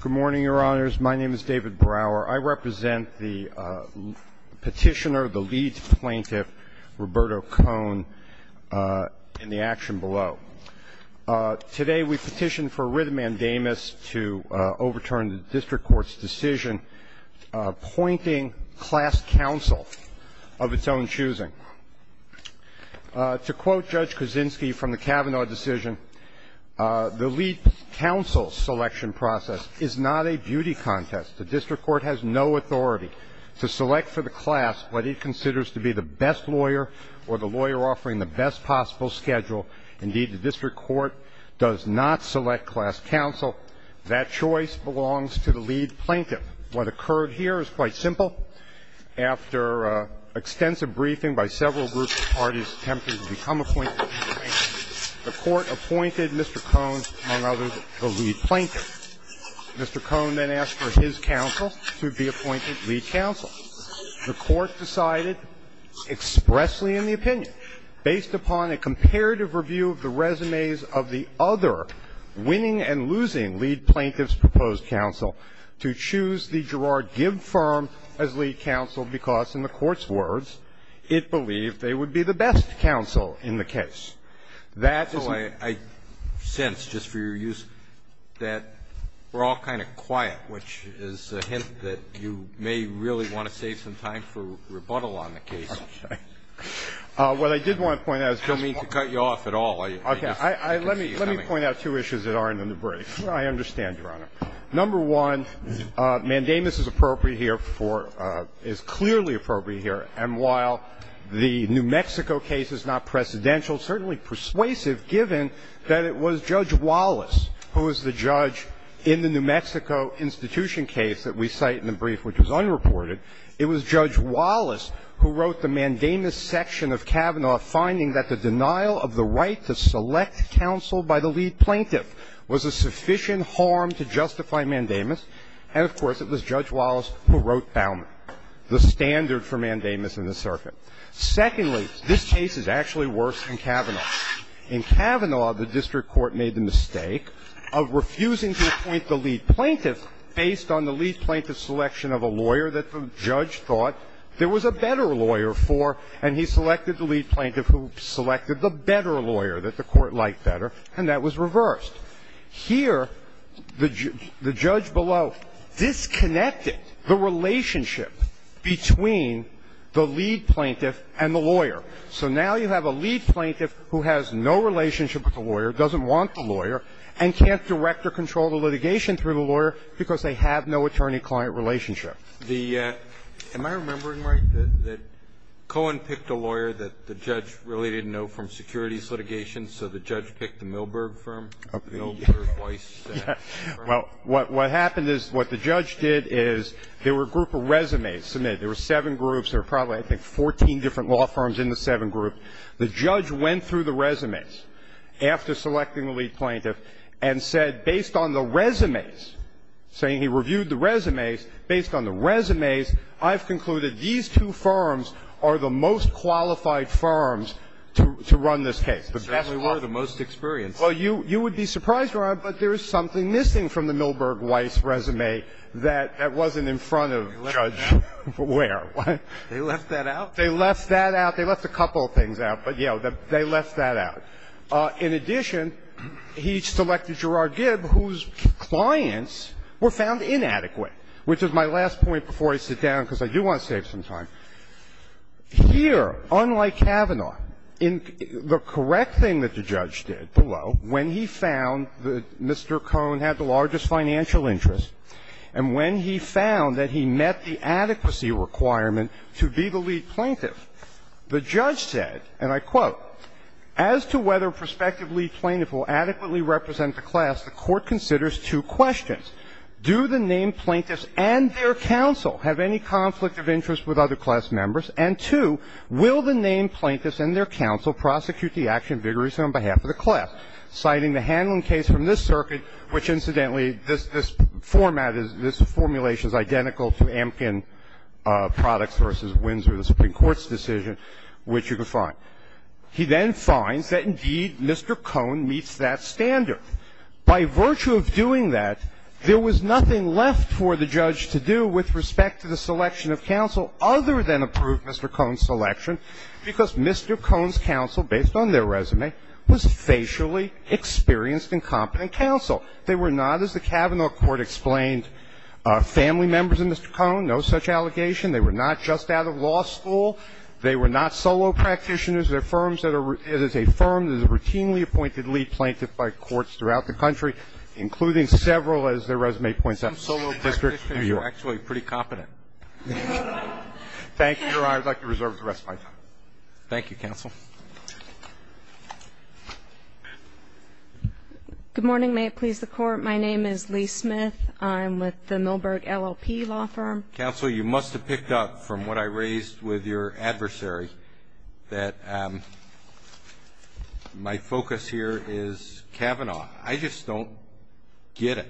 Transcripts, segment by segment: Good morning, your honors. My name is David Brower. I represent the petitioner, the lead plaintiff, Roberto Cohen, in the action below. Today, we petitioned for Arrhythmandamus to overturn the district court's decision appointing class counsel of its own choosing. To quote Judge Kuczynski from the Kavanaugh decision, the lead counsel selection process is not a beauty contest. The district court has no authority to select for the class what it considers to be the best lawyer or the lawyer offering the best possible schedule. Indeed, the district court does not select class counsel. That choice belongs to the lead plaintiff. What occurred here is quite simple. After extensive briefing by several groups of parties attempting to become appointed lead plaintiffs, the court appointed Mr. Cohen, among others, the lead plaintiff. Mr. Cohen then asked for his counsel to be appointed lead counsel. The court decided expressly in the opinion, based upon a comparative review of the resumes of the other winning and losing lead plaintiffs' proposed counsel, to choose the Girard-Gibb firm as lead counsel because, in the Court's words, it believed they would be the best counsel in the case. That is the way I sense, just for your use, that we're all kind of quiet, which is a hint that you may really want to save some time for rebuttal on the case. Okay. What I did want to point out is just one point. I don't mean to cut you off at all. Okay. Let me point out two issues that aren't in the brief. I understand, Your Honor. Number one, mandamus is appropriate here for – is clearly appropriate here. And while the New Mexico case is not precedential, it's certainly persuasive, given that it was Judge Wallace who was the judge in the New Mexico institution case that we cite in the brief, which was unreported. It was Judge Wallace who wrote the mandamus section of Kavanaugh finding that the denial of the right to select counsel by the lead plaintiff was a sufficient harm to justify mandamus, and, of course, it was Judge Wallace who wrote Bauman, the standard for mandamus in the circuit. Secondly, this case is actually worse than Kavanaugh. In Kavanaugh, the district court made the mistake of refusing to appoint the lead plaintiff based on the lead plaintiff's selection of a lawyer that the judge thought there was a better lawyer for, and he selected the lead plaintiff who selected the better lawyer that the court liked better, and that was reversed. Here, the judge below disconnected the relationship between the lead plaintiff and the lawyer. So now you have a lead plaintiff who has no relationship with the lawyer, doesn't want the lawyer, and can't direct or control the litigation through the lawyer because they have no attorney-client relationship. Am I remembering right that Cohen picked a lawyer that the judge really didn't know from securities litigation, so the judge picked the Milberg firm, the Milberg Weiss firm? Well, what happened is what the judge did is there were a group of resumes submitted. There were seven groups. There were probably, I think, 14 different law firms in the seven groups. The judge went through the resumes after selecting the lead plaintiff and said, based on the resumes, saying he reviewed the resumes, based on the resumes, I've concluded these two firms are the most qualified firms to run this case. So they were the most experienced. Well, you would be surprised, Your Honor, but there is something missing from the Milberg Weiss resume that wasn't in front of Judge Ware. They left that out? They left that out. They left a couple of things out, but, you know, they left that out. In addition, he selected Gerard Gibb, whose clients were found inadequate, which is my last point before I sit down, because I do want to save some time. Here, unlike Kavanaugh, in the correct thing that the judge did, the law, when he found that Mr. Cohen had the largest financial interest and when he found that he met the adequacy requirement to be the lead plaintiff, the judge said, and I quote, as to whether a prospective lead plaintiff will adequately represent the class, the court considers two questions. Do the named plaintiffs and their counsel have any conflict of interest with other class members? And two, will the named plaintiffs and their counsel prosecute the action vigorously on behalf of the class? Citing the handling case from this circuit, which, incidentally, this format, this formulation is identical to Amkin Products v. Windsor, the Supreme Court's decision, which you can find. He then finds that, indeed, Mr. Cohen meets that standard. By virtue of doing that, there was nothing left for the judge to do with respect to the selection of counsel other than approve Mr. Cohen's selection, because Mr. Cohen's counsel, based on their resume, was facially experienced and competent counsel. They were not, as the Kavanaugh court explained, family members of Mr. Cohen, no such allegation. They were not just out of law school. They were not solo practitioners. They're firms that are as a firm that is routinely appointed lead plaintiff by courts throughout the country, including several, as their resume points out, solo districts in New York. Roberts. Some practitioners are actually pretty competent. Thank you. Your Honor, I would like to reserve the rest of my time. Roberts. Thank you, counsel. Smith. Good morning. May it please the Court. My name is Lee Smith. I'm with the Milberg LLP Law Firm. Counsel, you must have picked up from what I raised with your adversary that my focus here is Kavanaugh. I just don't get it.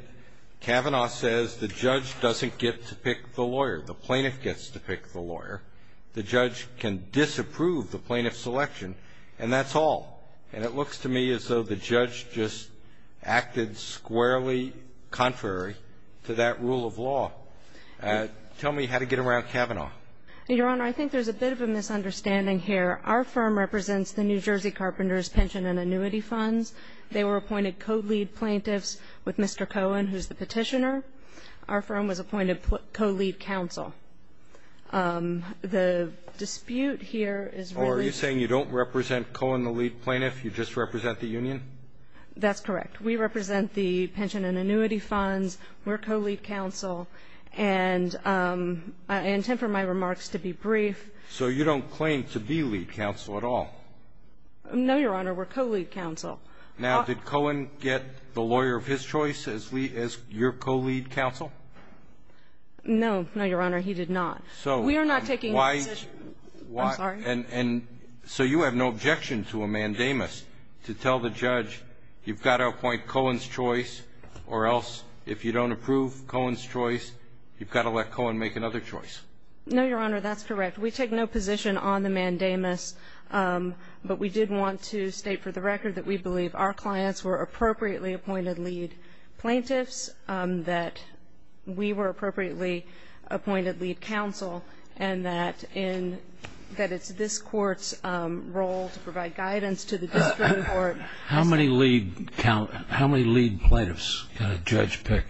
Kavanaugh says the judge doesn't get to pick the lawyer. The plaintiff gets to pick the lawyer. The judge can disapprove the plaintiff's selection, and that's all. And it looks to me as though the judge just acted squarely contrary to that rule of law. Tell me how to get around Kavanaugh. Your Honor, I think there's a bit of a misunderstanding here. Our firm represents the New Jersey Carpenters Pension and Annuity Funds. They were appointed co-lead plaintiffs with Mr. Cohen, who's the Petitioner. Our firm was appointed co-lead counsel. The dispute here is really the same. Are you saying you don't represent Cohen, the lead plaintiff? You just represent the union? That's correct. We represent the Pension and Annuity Funds. We're co-lead counsel. And I intend for my remarks to be brief. So you don't claim to be lead counsel at all? No, Your Honor. We're co-lead counsel. Now, did Cohen get the lawyer of his choice as your co-lead counsel? No. No, Your Honor, he did not. We are not taking that position. I'm sorry? And so you have no objection to a mandamus to tell the judge you've got to appoint you've got to let Cohen make another choice? No, Your Honor, that's correct. We take no position on the mandamus, but we did want to state for the record that we believe our clients were appropriately appointed lead plaintiffs, that we were appropriately appointed lead counsel, and that it's this Court's role to provide guidance to the district court. How many lead plaintiffs can a judge pick?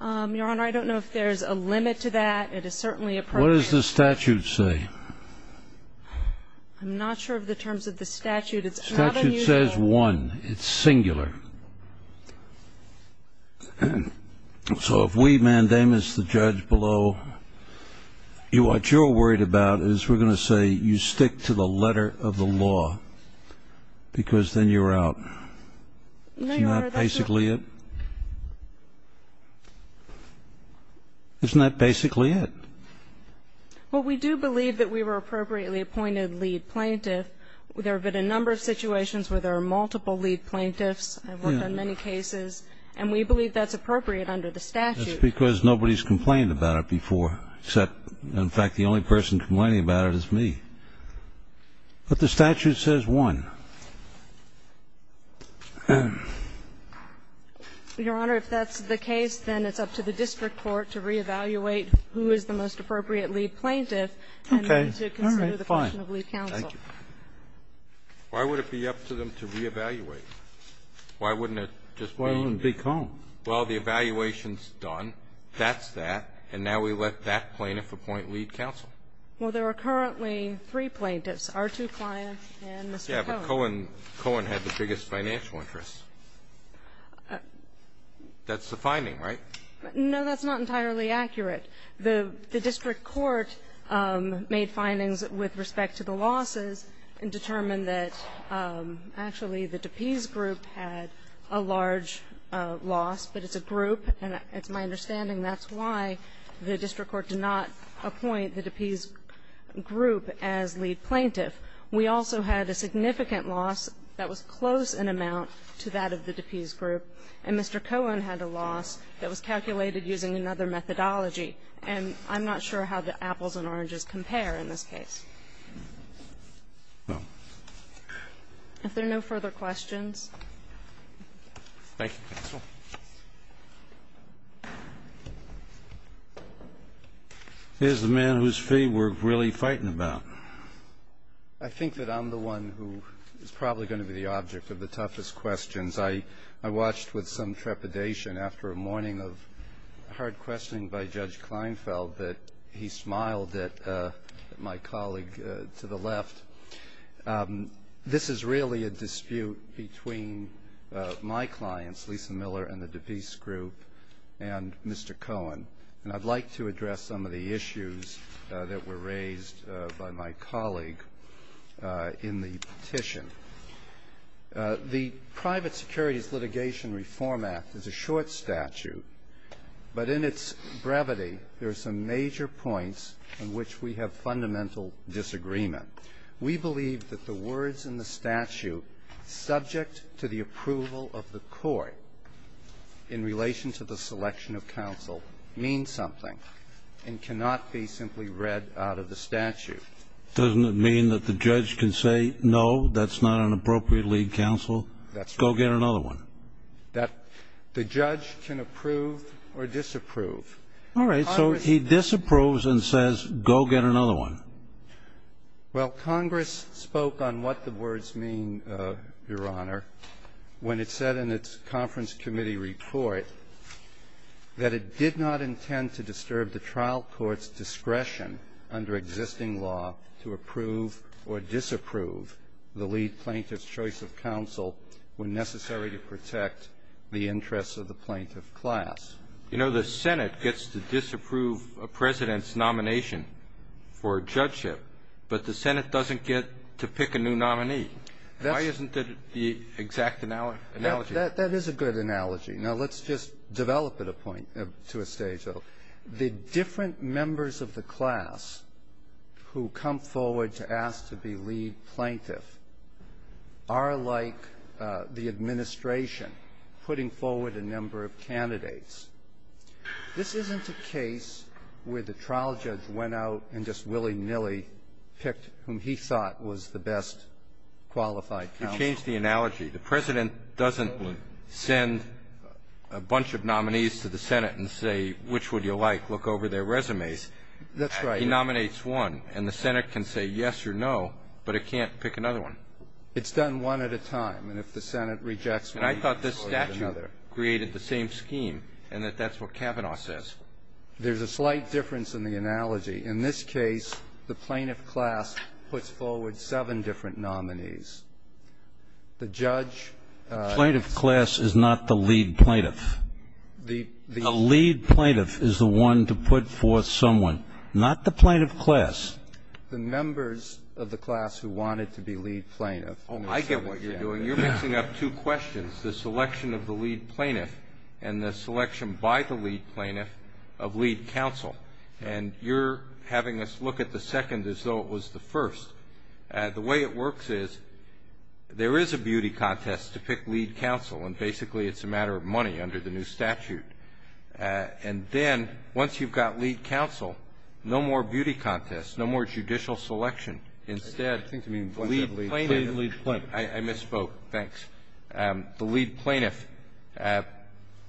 Your Honor, I don't know if there's a limit to that. It is certainly appropriate. What does the statute say? I'm not sure of the terms of the statute. It's not unusual. The statute says one. It's singular. So if we mandamus the judge below, what you're worried about is we're going to say you stick to the letter of the law because then you're out. No, Your Honor, that's not. Isn't that basically it? Isn't that basically it? Well, we do believe that we were appropriately appointed lead plaintiff. There have been a number of situations where there are multiple lead plaintiffs. I've worked on many cases. And we believe that's appropriate under the statute. That's because nobody's complained about it before, except, in fact, the only person complaining about it is me. But the statute says one. Your Honor, if that's the case, then it's up to the district court to reevaluate who is the most appropriate lead plaintiff and then to consider the question of lead counsel. Okay. All right. Fine. Thank you. Why would it be up to them to reevaluate? Why wouldn't it just be? Why wouldn't it be called? Well, the evaluation's done. That's that. And now we let that plaintiff appoint lead counsel. Well, there are currently three plaintiffs, R2 Client and Mr. Cohen. Yeah, but Cohen had the biggest financial interest. That's the finding, right? No, that's not entirely accurate. The district court made findings with respect to the losses and determined that actually the DePease group had a large loss, but it's a group and it's my understanding that's why the district court did not appoint the DePease group as lead plaintiff. We also had a significant loss that was close in amount to that of the DePease group, and Mr. Cohen had a loss that was calculated using another methodology. And I'm not sure how the apples and oranges compare in this case. No. Thank you, counsel. Here's the man whose feet we're really fighting about. I think that I'm the one who is probably going to be the object of the toughest questions. I watched with some trepidation after a morning of hard questioning by Judge Kleinfeld that he smiled at my colleague to the left. This is really a dispute between my clients, Lisa Miller and the DePease group, and Mr. Cohen, and I'd like to address some of the issues that were raised by my colleague in the petition. The Private Securities Litigation Reform Act is a short statute, but in its brevity, there are some major points on which we have fundamental disagreement. We believe that the words in the statute subject to the approval of the court in relation to the selection of counsel mean something and cannot be simply read out of the statute. Doesn't it mean that the judge can say, no, that's not an appropriate lead counsel? That's right. Go get another one. That the judge can approve or disapprove. All right. So he disapproves and says, go get another one. Well, Congress spoke on what the words mean, Your Honor, when it said in its conference committee report that it did not intend to disturb the trial court's discretion under existing law to approve or disapprove the lead plaintiff's choice of counsel when necessary to protect the interests of the plaintiff class. You know, the Senate gets to disapprove a President's nomination for judgeship, but the Senate doesn't get to pick a new nominee. Why isn't that the exact analogy? That is a good analogy. Now, let's just develop it a point to a stage, though. The different members of the class who come forward to ask to be lead plaintiff are like the administration putting forward a number of candidates. This isn't a case where the trial judge went out and just willy-nilly picked whom he thought was the best qualified counsel. You changed the analogy. The President doesn't send a bunch of nominees to the Senate and say, which would you like, look over their resumes. That's right. He nominates one, and the Senate can say yes or no, but it can't pick another one. It's done one at a time. And if the Senate rejects one, he can pick another. And I thought this statute created the same scheme and that that's what Kavanaugh says. There's a slight difference in the analogy. In this case, the plaintiff class puts forward seven different nominees. The judge ---- The plaintiff class is not the lead plaintiff. The lead plaintiff is the one to put forth someone. Not the plaintiff class. The members of the class who wanted to be lead plaintiff. I get what you're doing. You're mixing up two questions, the selection of the lead plaintiff and the selection by the lead plaintiff of lead counsel. And you're having us look at the second as though it was the first. The way it works is there is a beauty contest to pick lead counsel, and basically it's a matter of money under the new statute. And then, once you've got lead counsel, no more beauty contests, no more judicial selection. Instead, lead plaintiff. I misspoke. Thanks. The lead plaintiff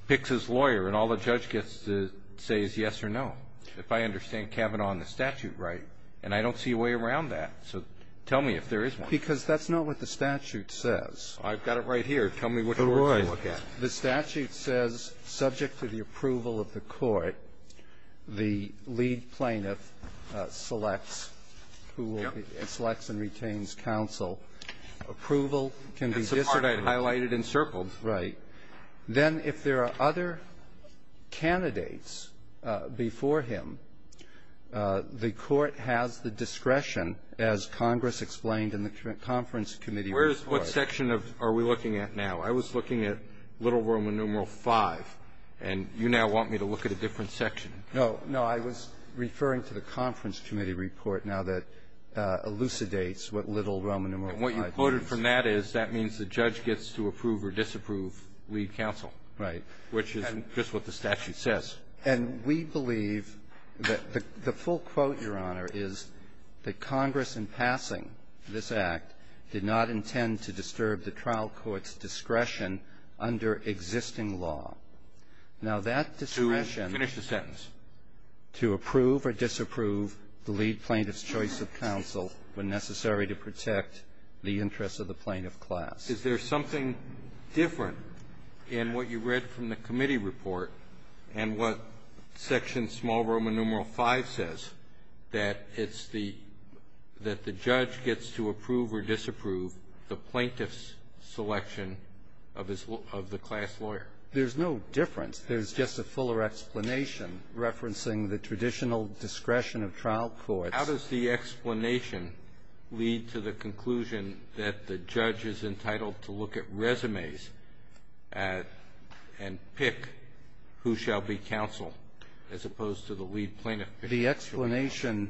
picks his lawyer, and all the judge gets to say is yes or no, if I understand Kavanaugh and the statute right. And I don't see a way around that. So tell me if there is one. Because that's not what the statute says. I've got it right here. Tell me which one to look at. The statute says, subject to the approval of the court, the lead plaintiff selects and retains counsel. That's the part I had highlighted and circled. Right. Then, if there are other candidates before him, the court has the discretion, as Congress explained in the conference committee report. What section are we looking at now? I was looking at Little Roman numeral V, and you now want me to look at a different section. No. No. I was referring to the conference committee report now that elucidates what Little Roman numeral V means. And what you quoted from that is that means the judge gets to approve or disapprove lead counsel. Right. Which is just what the statute says. And we believe that the full quote, Your Honor, is that Congress in passing this Act did not intend to disturb the trial court's discretion under existing law. Now, that discretion to approve or disapprove the lead plaintiff's choice of counsel when necessary to protect the interests of the plaintiff class. Is there something different in what you read from the committee report and what the plaintiff's selection of the class lawyer? There's no difference. There's just a fuller explanation referencing the traditional discretion of trial courts. How does the explanation lead to the conclusion that the judge is entitled to look at resumes and pick who shall be counsel as opposed to the lead plaintiff? The explanation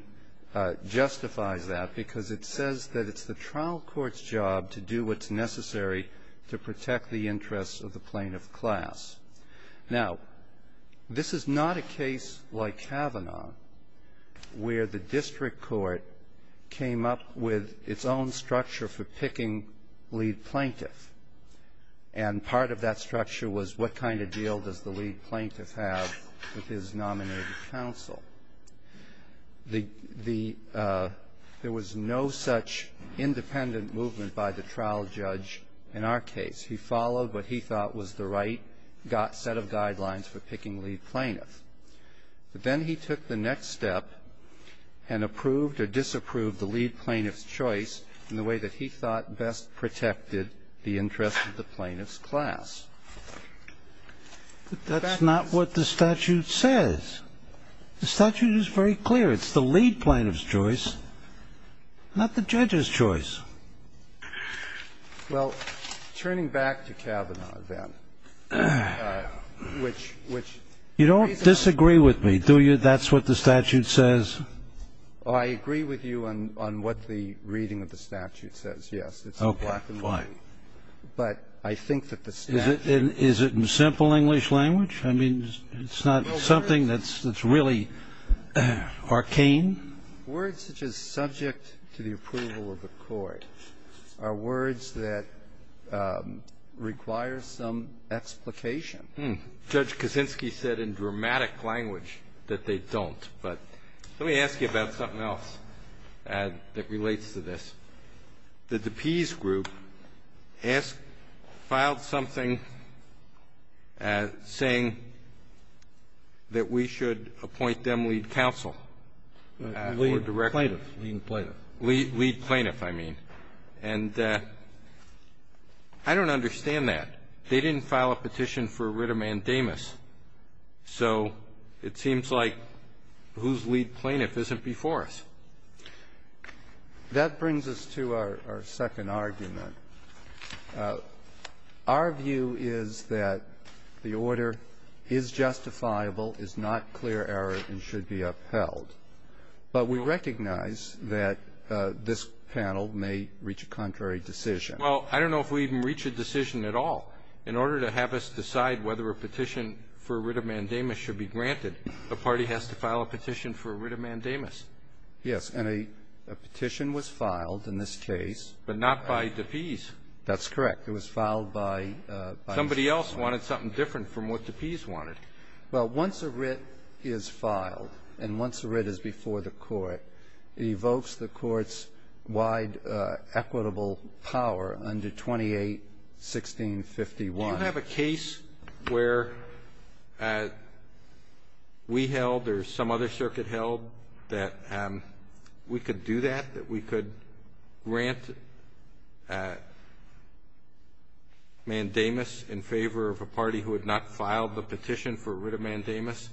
justifies that because it says that it's the trial court's job to do what's necessary to protect the interests of the plaintiff class. Now, this is not a case like Kavanaugh where the district court came up with its own structure for picking lead plaintiff, and part of that structure was what kind of deal does the lead plaintiff have with his nominated counsel. There was no such independent movement by the trial judge in our case. He followed what he thought was the right set of guidelines for picking lead plaintiff. But then he took the next step and approved or disapproved the lead plaintiff's choice in the way that he thought best protected the interests of the plaintiff's class. That's not what the statute says. The statute is very clear. It's the lead plaintiff's choice, not the judge's choice. Well, turning back to Kavanaugh, then, which raises up to the question of whether of the plaintiff's class. The reading of the statute says, yes, it's a black and white. But I think that the statute doesn't. Is it in simple English language? I mean, it's not something that's really arcane? Words such as subject to the approval of the court are words that require some explication. Judge Kaczynski said in dramatic language that they don't. But let me ask you about something else that relates to this, that the Pease Group filed something saying that we should appoint them lead counsel. Lead plaintiff. Lead plaintiff, I mean. And I don't understand that. They didn't file a petition for a writ of mandamus. So it seems like whose lead plaintiff isn't before us. That brings us to our second argument. Our view is that the order is justifiable, is not clear error, and should be upheld. But we recognize that this panel may reach a contrary decision. Well, I don't know if we even reach a decision at all. In order to have us decide whether a petition for a writ of mandamus should be granted, the party has to file a petition for a writ of mandamus. Yes. And a petition was filed in this case. But not by DePease. That's correct. It was filed by DePease. Somebody else wanted something different from what DePease wanted. Well, once a writ is filed and once a writ is before the court, it evokes the court's wide equitable power under 28-1651. Do you have a case where we held or some other circuit held that we could do that, that we could grant mandamus in favor of a party who had not filed the petition for a writ of mandamus?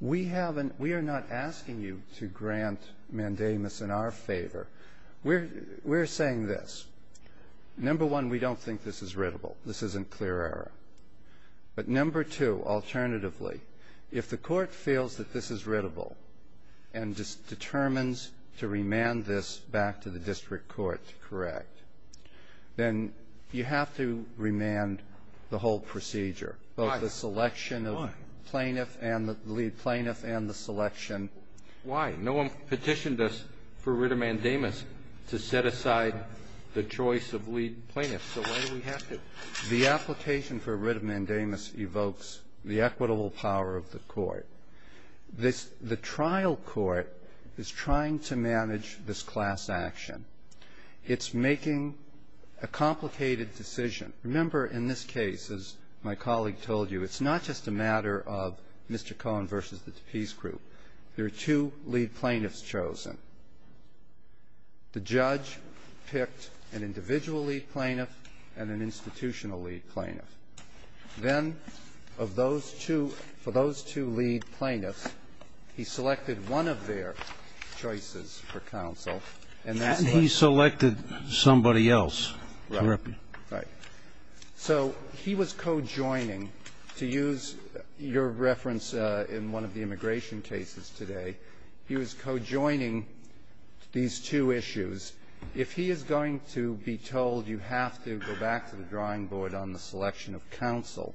We haven't. We are not asking you to grant mandamus in our favor. We're saying this. Number one, we don't think this is writable. This isn't clear error. But number two, alternatively, if the court feels that this is writable and determines to remand this back to the district court to correct, then you have to remand the whole procedure. Why? Both the selection of plaintiff and the lead plaintiff and the selection. Why? No one petitioned us for a writ of mandamus to set aside the choice of lead plaintiff. So why do we have to? The application for a writ of mandamus evokes the equitable power of the court. The trial court is trying to manage this class action. It's making a complicated decision. Remember, in this case, as my colleague told you, it's not just a matter of Mr. Cohen versus the Tappis group. There are two lead plaintiffs chosen. The judge picked an individual lead plaintiff and an institutional lead plaintiff. Then of those two, for those two lead plaintiffs, he selected one of their choices for counsel. And he selected somebody else. Right. So he was co-joining, to use your reference in one of the immigration cases today, he was co-joining these two issues. If he is going to be told you have to go back to the drawing board on the selection of counsel,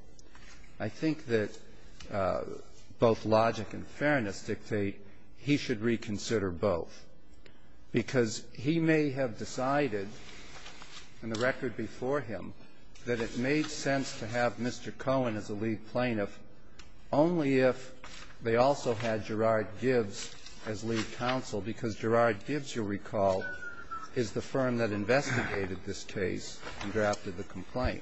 I think that both logic and fairness dictate he should reconsider both, because he may have decided in the record before him that it made sense to have Mr. Cohen as a lead plaintiff only if they also had Gerard Gibbs as lead counsel, because Gerard Gibbs, you'll recall, is the firm that investigated this case and drafted the complaint.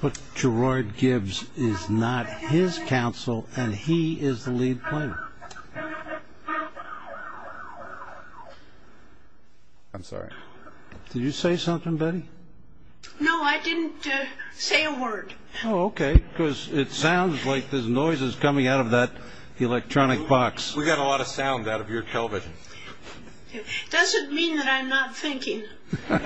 But Gerard Gibbs is not his counsel and he is the lead plaintiff. I'm sorry. Did you say something, Betty? No, I didn't say a word. Oh, okay. Because it sounds like there's noises coming out of that electronic box. We got a lot of sound out of your television. Does it mean that I'm not thinking? All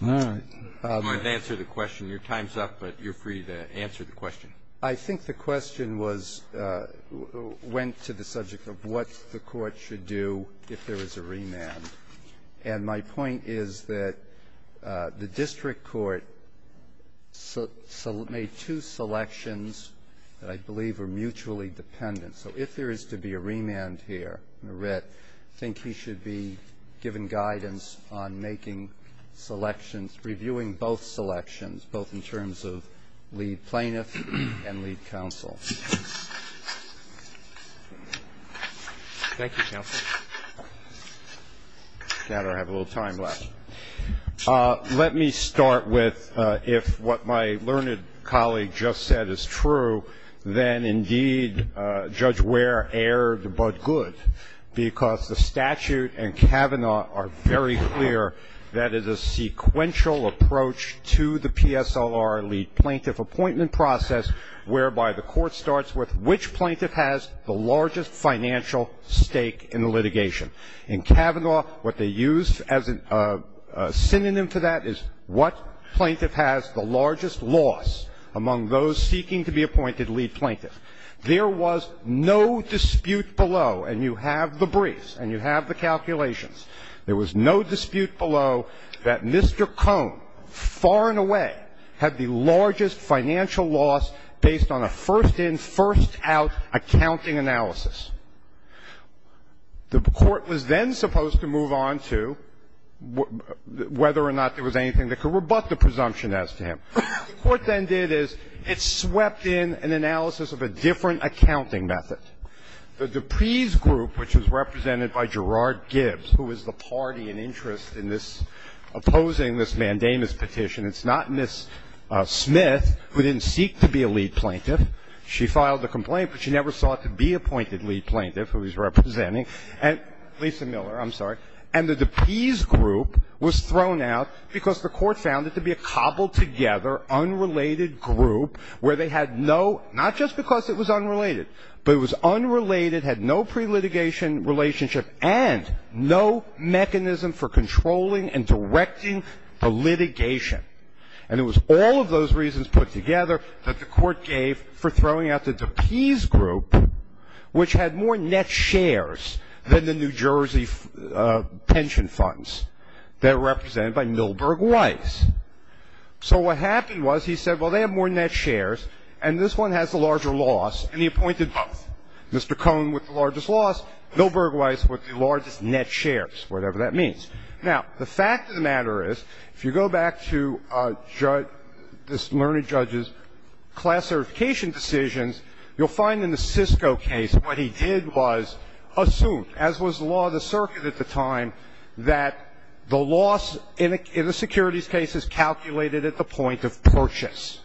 right. I'm going to answer the question. Your time's up, but you're free to answer the question. I think the question was, went to the subject of what the Court should do if there was a remand. And my point is that the District Court made two selections that I believe are mutually dependent. So if there is to be a remand here, Merritt, I think he should be given guidance on making selections, reviewing both selections, both in terms of lead Thank you, counsel. I don't have a little time left. Let me start with if what my learned colleague just said is true, then, indeed, Judge Ware erred but good. Because the statute and Kavanaugh are very clear that it is a sequential approach to the PSLR lead plaintiff appointment process whereby the Court starts with which plaintiff has the largest financial stake in the litigation. In Kavanaugh, what they use as a synonym for that is what plaintiff has the largest loss among those seeking to be appointed lead plaintiff. There was no dispute below, and you have the briefs and you have the calculations, there was no dispute below that Mr. Cone, far and away, had the largest financial loss based on a first-in, first-out accounting analysis. The Court was then supposed to move on to whether or not there was anything that could rebut the presumption as to him. What the Court then did is it swept in an analysis of a different accounting method. The Dupree's group, which was represented by Gerard Gibbs, who was the party in interest in this, opposing this mandamus petition, it's not Ms. Smith, who didn't seek to be a lead plaintiff. She filed the complaint, but she never sought to be appointed lead plaintiff, who he's representing, and Lisa Miller, I'm sorry, and the Dupree's group was thrown out because the Court found it to be a cobbled-together, unrelated group where they had no, not just because it was unrelated, but it was unrelated, had no pre-litigation relationship and no mechanism for controlling and directing the litigation. And it was all of those reasons put together that the Court gave for throwing out the Dupree's group, which had more net shares than the New Jersey pension funds that were represented by Milberg Weiss. So what happened was he said, well, they have more net shares, and this one has a larger loss, and he appointed both. Mr. Cohn with the largest loss, Milberg Weiss with the largest net shares, whatever that means. Now, the fact of the matter is, if you go back to this learned judge's class certification decisions, you'll find in the Cisco case what he did was assume, as was the law of the circuit at the time, that the loss in a securities case is calculated at the point of purchase.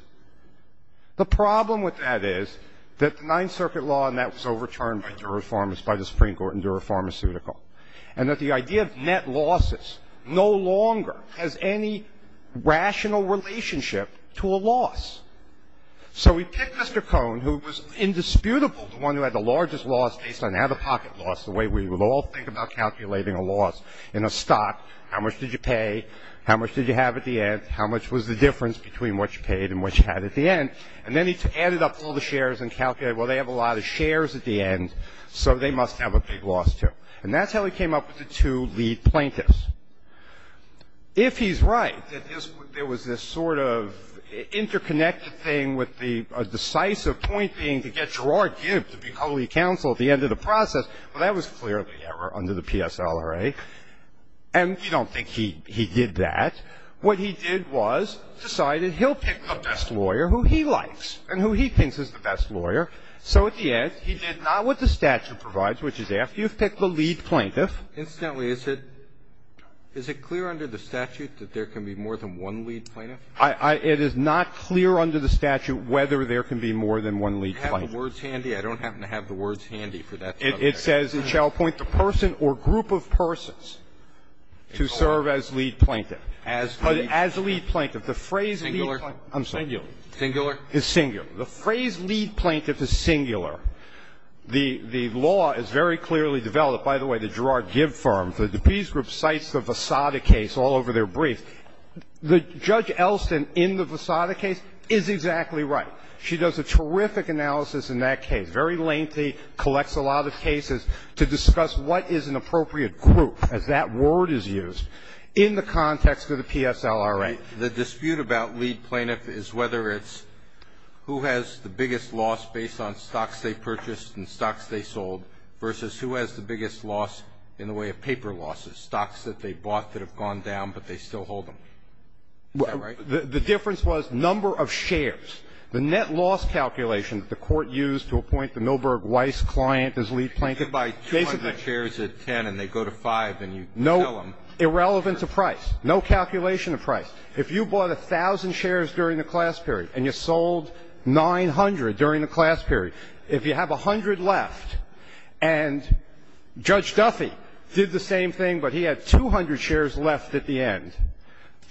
The problem with that is that the Ninth Circuit law, and that was overturned by the Supreme Court in Dura Pharmaceutical, and that the idea of net losses no longer has any rational relationship to a loss. So we picked Mr. Cohn, who was indisputable the one who had the largest loss based on out-of-pocket loss, the way we would all think about calculating a loss in a stock. How much did you pay? How much did you have at the end? How much was the difference between what you paid and what you had at the end? And then he added up all the shares and calculated, well, they have a lot of shares at the end, so they must have a big loss, too. And that's how he came up with the two lead plaintiffs. If he's right, that there was this sort of interconnected thing with the decisive point being to get Gerard Gibb to be holy counsel at the end of the process, well, that was clearly error under the PSLRA. And you don't think he did that. What he did was decided he'll pick the best lawyer who he likes and who he thinks is the best lawyer. So at the end, he did not what the statute provides, which is after you've picked the lead plaintiff. Instantly, is it clear under the statute that there can be more than one lead plaintiff? It is not clear under the statute whether there can be more than one lead plaintiff. Do you have the words handy? I don't happen to have the words handy for that subject. It says it shall appoint the person or group of persons to serve as lead plaintiff. As lead plaintiff. As lead plaintiff. The phrase lead plaintiff. Singular. I'm sorry. Singular. Singular. It's singular. The phrase lead plaintiff is singular. The law is very clearly developed. By the way, the Gerard Gibb firm, the DePris group, cites the Vassada case all over their brief. Judge Elston in the Vassada case is exactly right. She does a terrific analysis in that case, very lengthy, collects a lot of cases to discuss what is an appropriate group, as that word is used, in the context of the PSLRA. The dispute about lead plaintiff is whether it's who has the biggest loss based on stocks they purchased and stocks they sold, versus who has the biggest loss in the way of paper losses, stocks that they bought that have gone down but they still hold them. Is that right? The difference was number of shares. The net loss calculation that the Court used to appoint the Milberg Weiss client as lead plaintiff, basically. If you buy 200 shares at 10 and they go to 5 and you sell them. Irrelevant to price. No calculation of price. If you bought 1,000 shares during the class period and you sold 900 during the class period, if you have 100 left and Judge Duffy did the same thing, but he had 200 shares left at the end,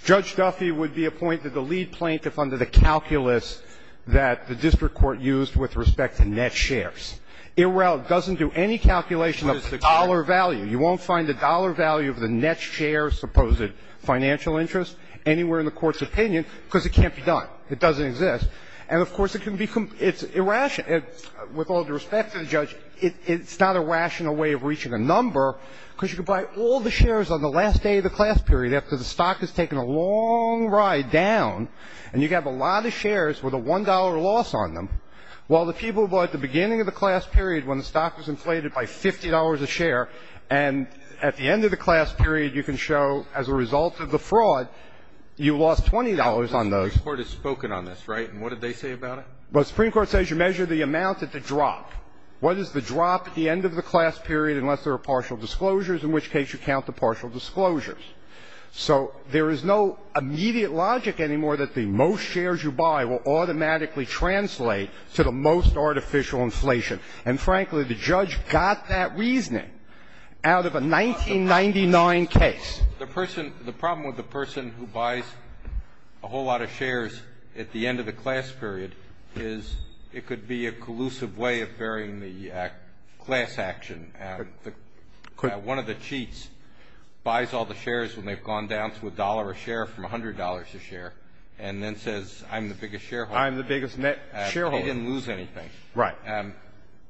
Judge Duffy would be appointed the lead plaintiff under the calculus that the district court used with respect to net shares. It doesn't do any calculation of dollar value. You won't find the dollar value of the net share of supposed financial interest anywhere in the Court's opinion because it can't be done. It doesn't exist. And, of course, it can be irrational. With all due respect to the judge, it's not a rational way of reaching a number because you can buy all the shares on the last day of the class period after the stock has taken a long ride down and you have a lot of shares with a $1 loss on them while the people who bought at the beginning of the class period when the stock was And at the end of the class period, you can show as a result of the fraud, you lost $20 on those. The Supreme Court has spoken on this, right? And what did they say about it? Well, the Supreme Court says you measure the amount at the drop. What is the drop at the end of the class period unless there are partial disclosures, in which case you count the partial disclosures. So there is no immediate logic anymore that the most shares you buy will automatically translate to the most artificial inflation. And, frankly, the judge got that reasoning out of a 1999 case. The person – the problem with the person who buys a whole lot of shares at the end of the class period is it could be a collusive way of varying the class action. One of the cheats buys all the shares when they've gone down to a dollar a share from $100 a share and then says, I'm the biggest shareholder. I'm the biggest shareholder. They didn't lose anything. Right.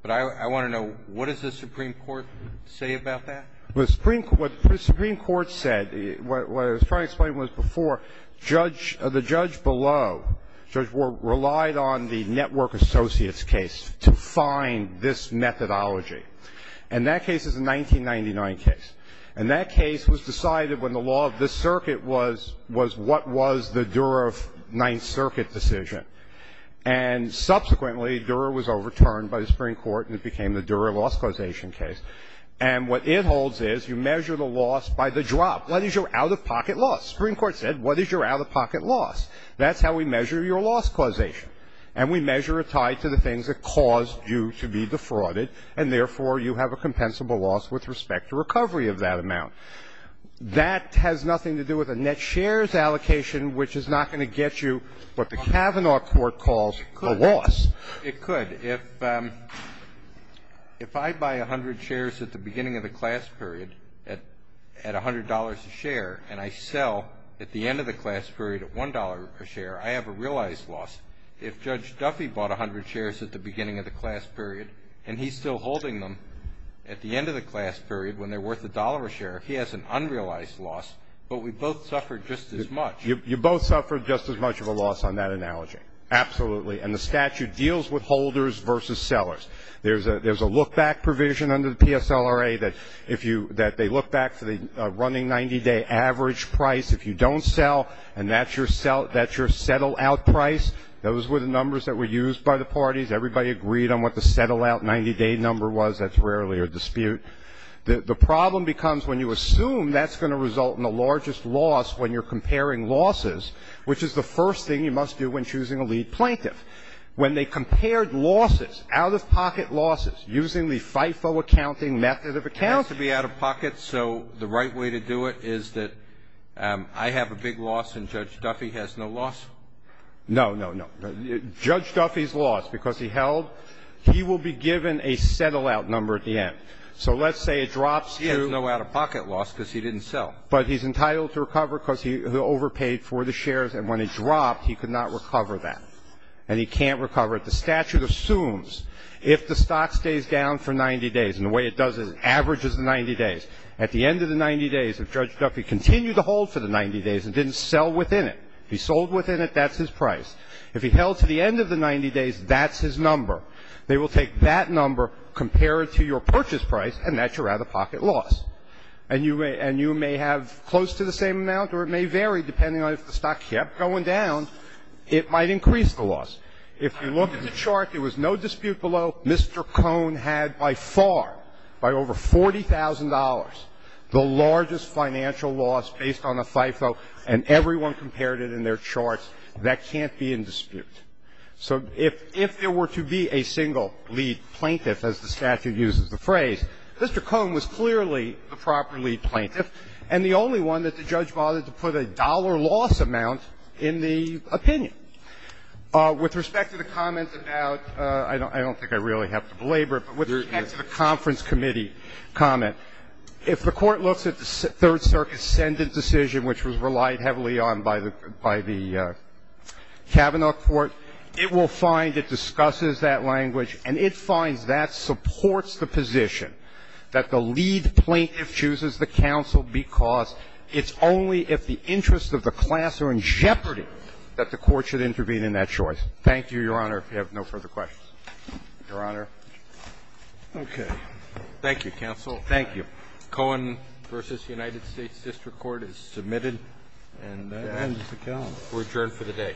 But I want to know, what does the Supreme Court say about that? Well, the Supreme – what the Supreme Court said, what I was trying to explain was before, judge – the judge below, Judge Ward, relied on the Network Associates case to find this methodology. And that case is a 1999 case. And that case was decided when the law of this circuit was what was the Durer Ninth Circuit decision. And subsequently, Durer was overturned by the Supreme Court, and it became the Durer loss causation case. And what it holds is you measure the loss by the drop. What is your out-of-pocket loss? The Supreme Court said, what is your out-of-pocket loss? That's how we measure your loss causation. And we measure it tied to the things that caused you to be defrauded, and therefore you have a compensable loss with respect to recovery of that amount. That has nothing to do with a net shares allocation, which is not going to get you what the Kavanaugh court calls a loss. It could. If I buy 100 shares at the beginning of the class period at $100 a share and I sell at the end of the class period at $1 a share, I have a realized loss. If Judge Duffy bought 100 shares at the beginning of the class period and he's still holding them at the end of the class period when they're worth $1 a share, he has an unrealized loss. But we both suffered just as much. You both suffered just as much of a loss on that analogy. Absolutely. And the statute deals with holders versus sellers. There's a look-back provision under the PSLRA that they look back to the running 90-day average price. If you don't sell and that's your settle-out price, those were the numbers that were used by the parties. Everybody agreed on what the settle-out 90-day number was. That's rarely a dispute. The problem becomes when you assume that's going to result in the largest loss when you're comparing losses, which is the first thing you must do when choosing a lead plaintiff. When they compared losses, out-of-pocket losses, using the FIFO accounting method of accounting It has to be out-of-pocket, so the right way to do it is that I have a big loss and Judge Duffy has no loss? No, no, no. Judge Duffy's lost because he held. He will be given a settle-out number at the end. So let's say it drops to He has no out-of-pocket loss because he didn't sell. But he's entitled to recover because he overpaid for the shares. And when it dropped, he could not recover that. And he can't recover it. The statute assumes if the stock stays down for 90 days, and the way it does is it averages the 90 days, at the end of the 90 days, if Judge Duffy continued to hold for the 90 days and didn't sell within it, if he sold within it, that's his price. If he held to the end of the 90 days, that's his number. They will take that number, compare it to your purchase price, and that's your out-of-pocket loss. And you may have close to the same amount, or it may vary depending on if the stock kept going down, it might increase the loss. If you look at the chart, there was no dispute below. Mr. Cohn had by far, by over $40,000, the largest financial loss based on a FIFO, and everyone compared it in their charts. That can't be in dispute. So if there were to be a single lead plaintiff, as the statute uses the phrase, Mr. Cohn was clearly the proper lead plaintiff, and the only one that the judge bothered to put a dollar loss amount in the opinion. With respect to the comment about – I don't think I really have to belabor it – but with respect to the conference committee comment, if the Court looks at the Third Circuit's sentence decision, which was relied heavily on by the Kavanaugh court, it will find it discusses that language, and it finds that supports the position that the lead plaintiff chooses the counsel because it's only if the interests of the class are in jeopardy that the Court should intervene in that choice. Thank you, Your Honor. If you have no further questions. Your Honor. Roberts. Okay. Thank you, counsel. Thank you. Cohn v. United States District Court is submitted and adjourned for the day.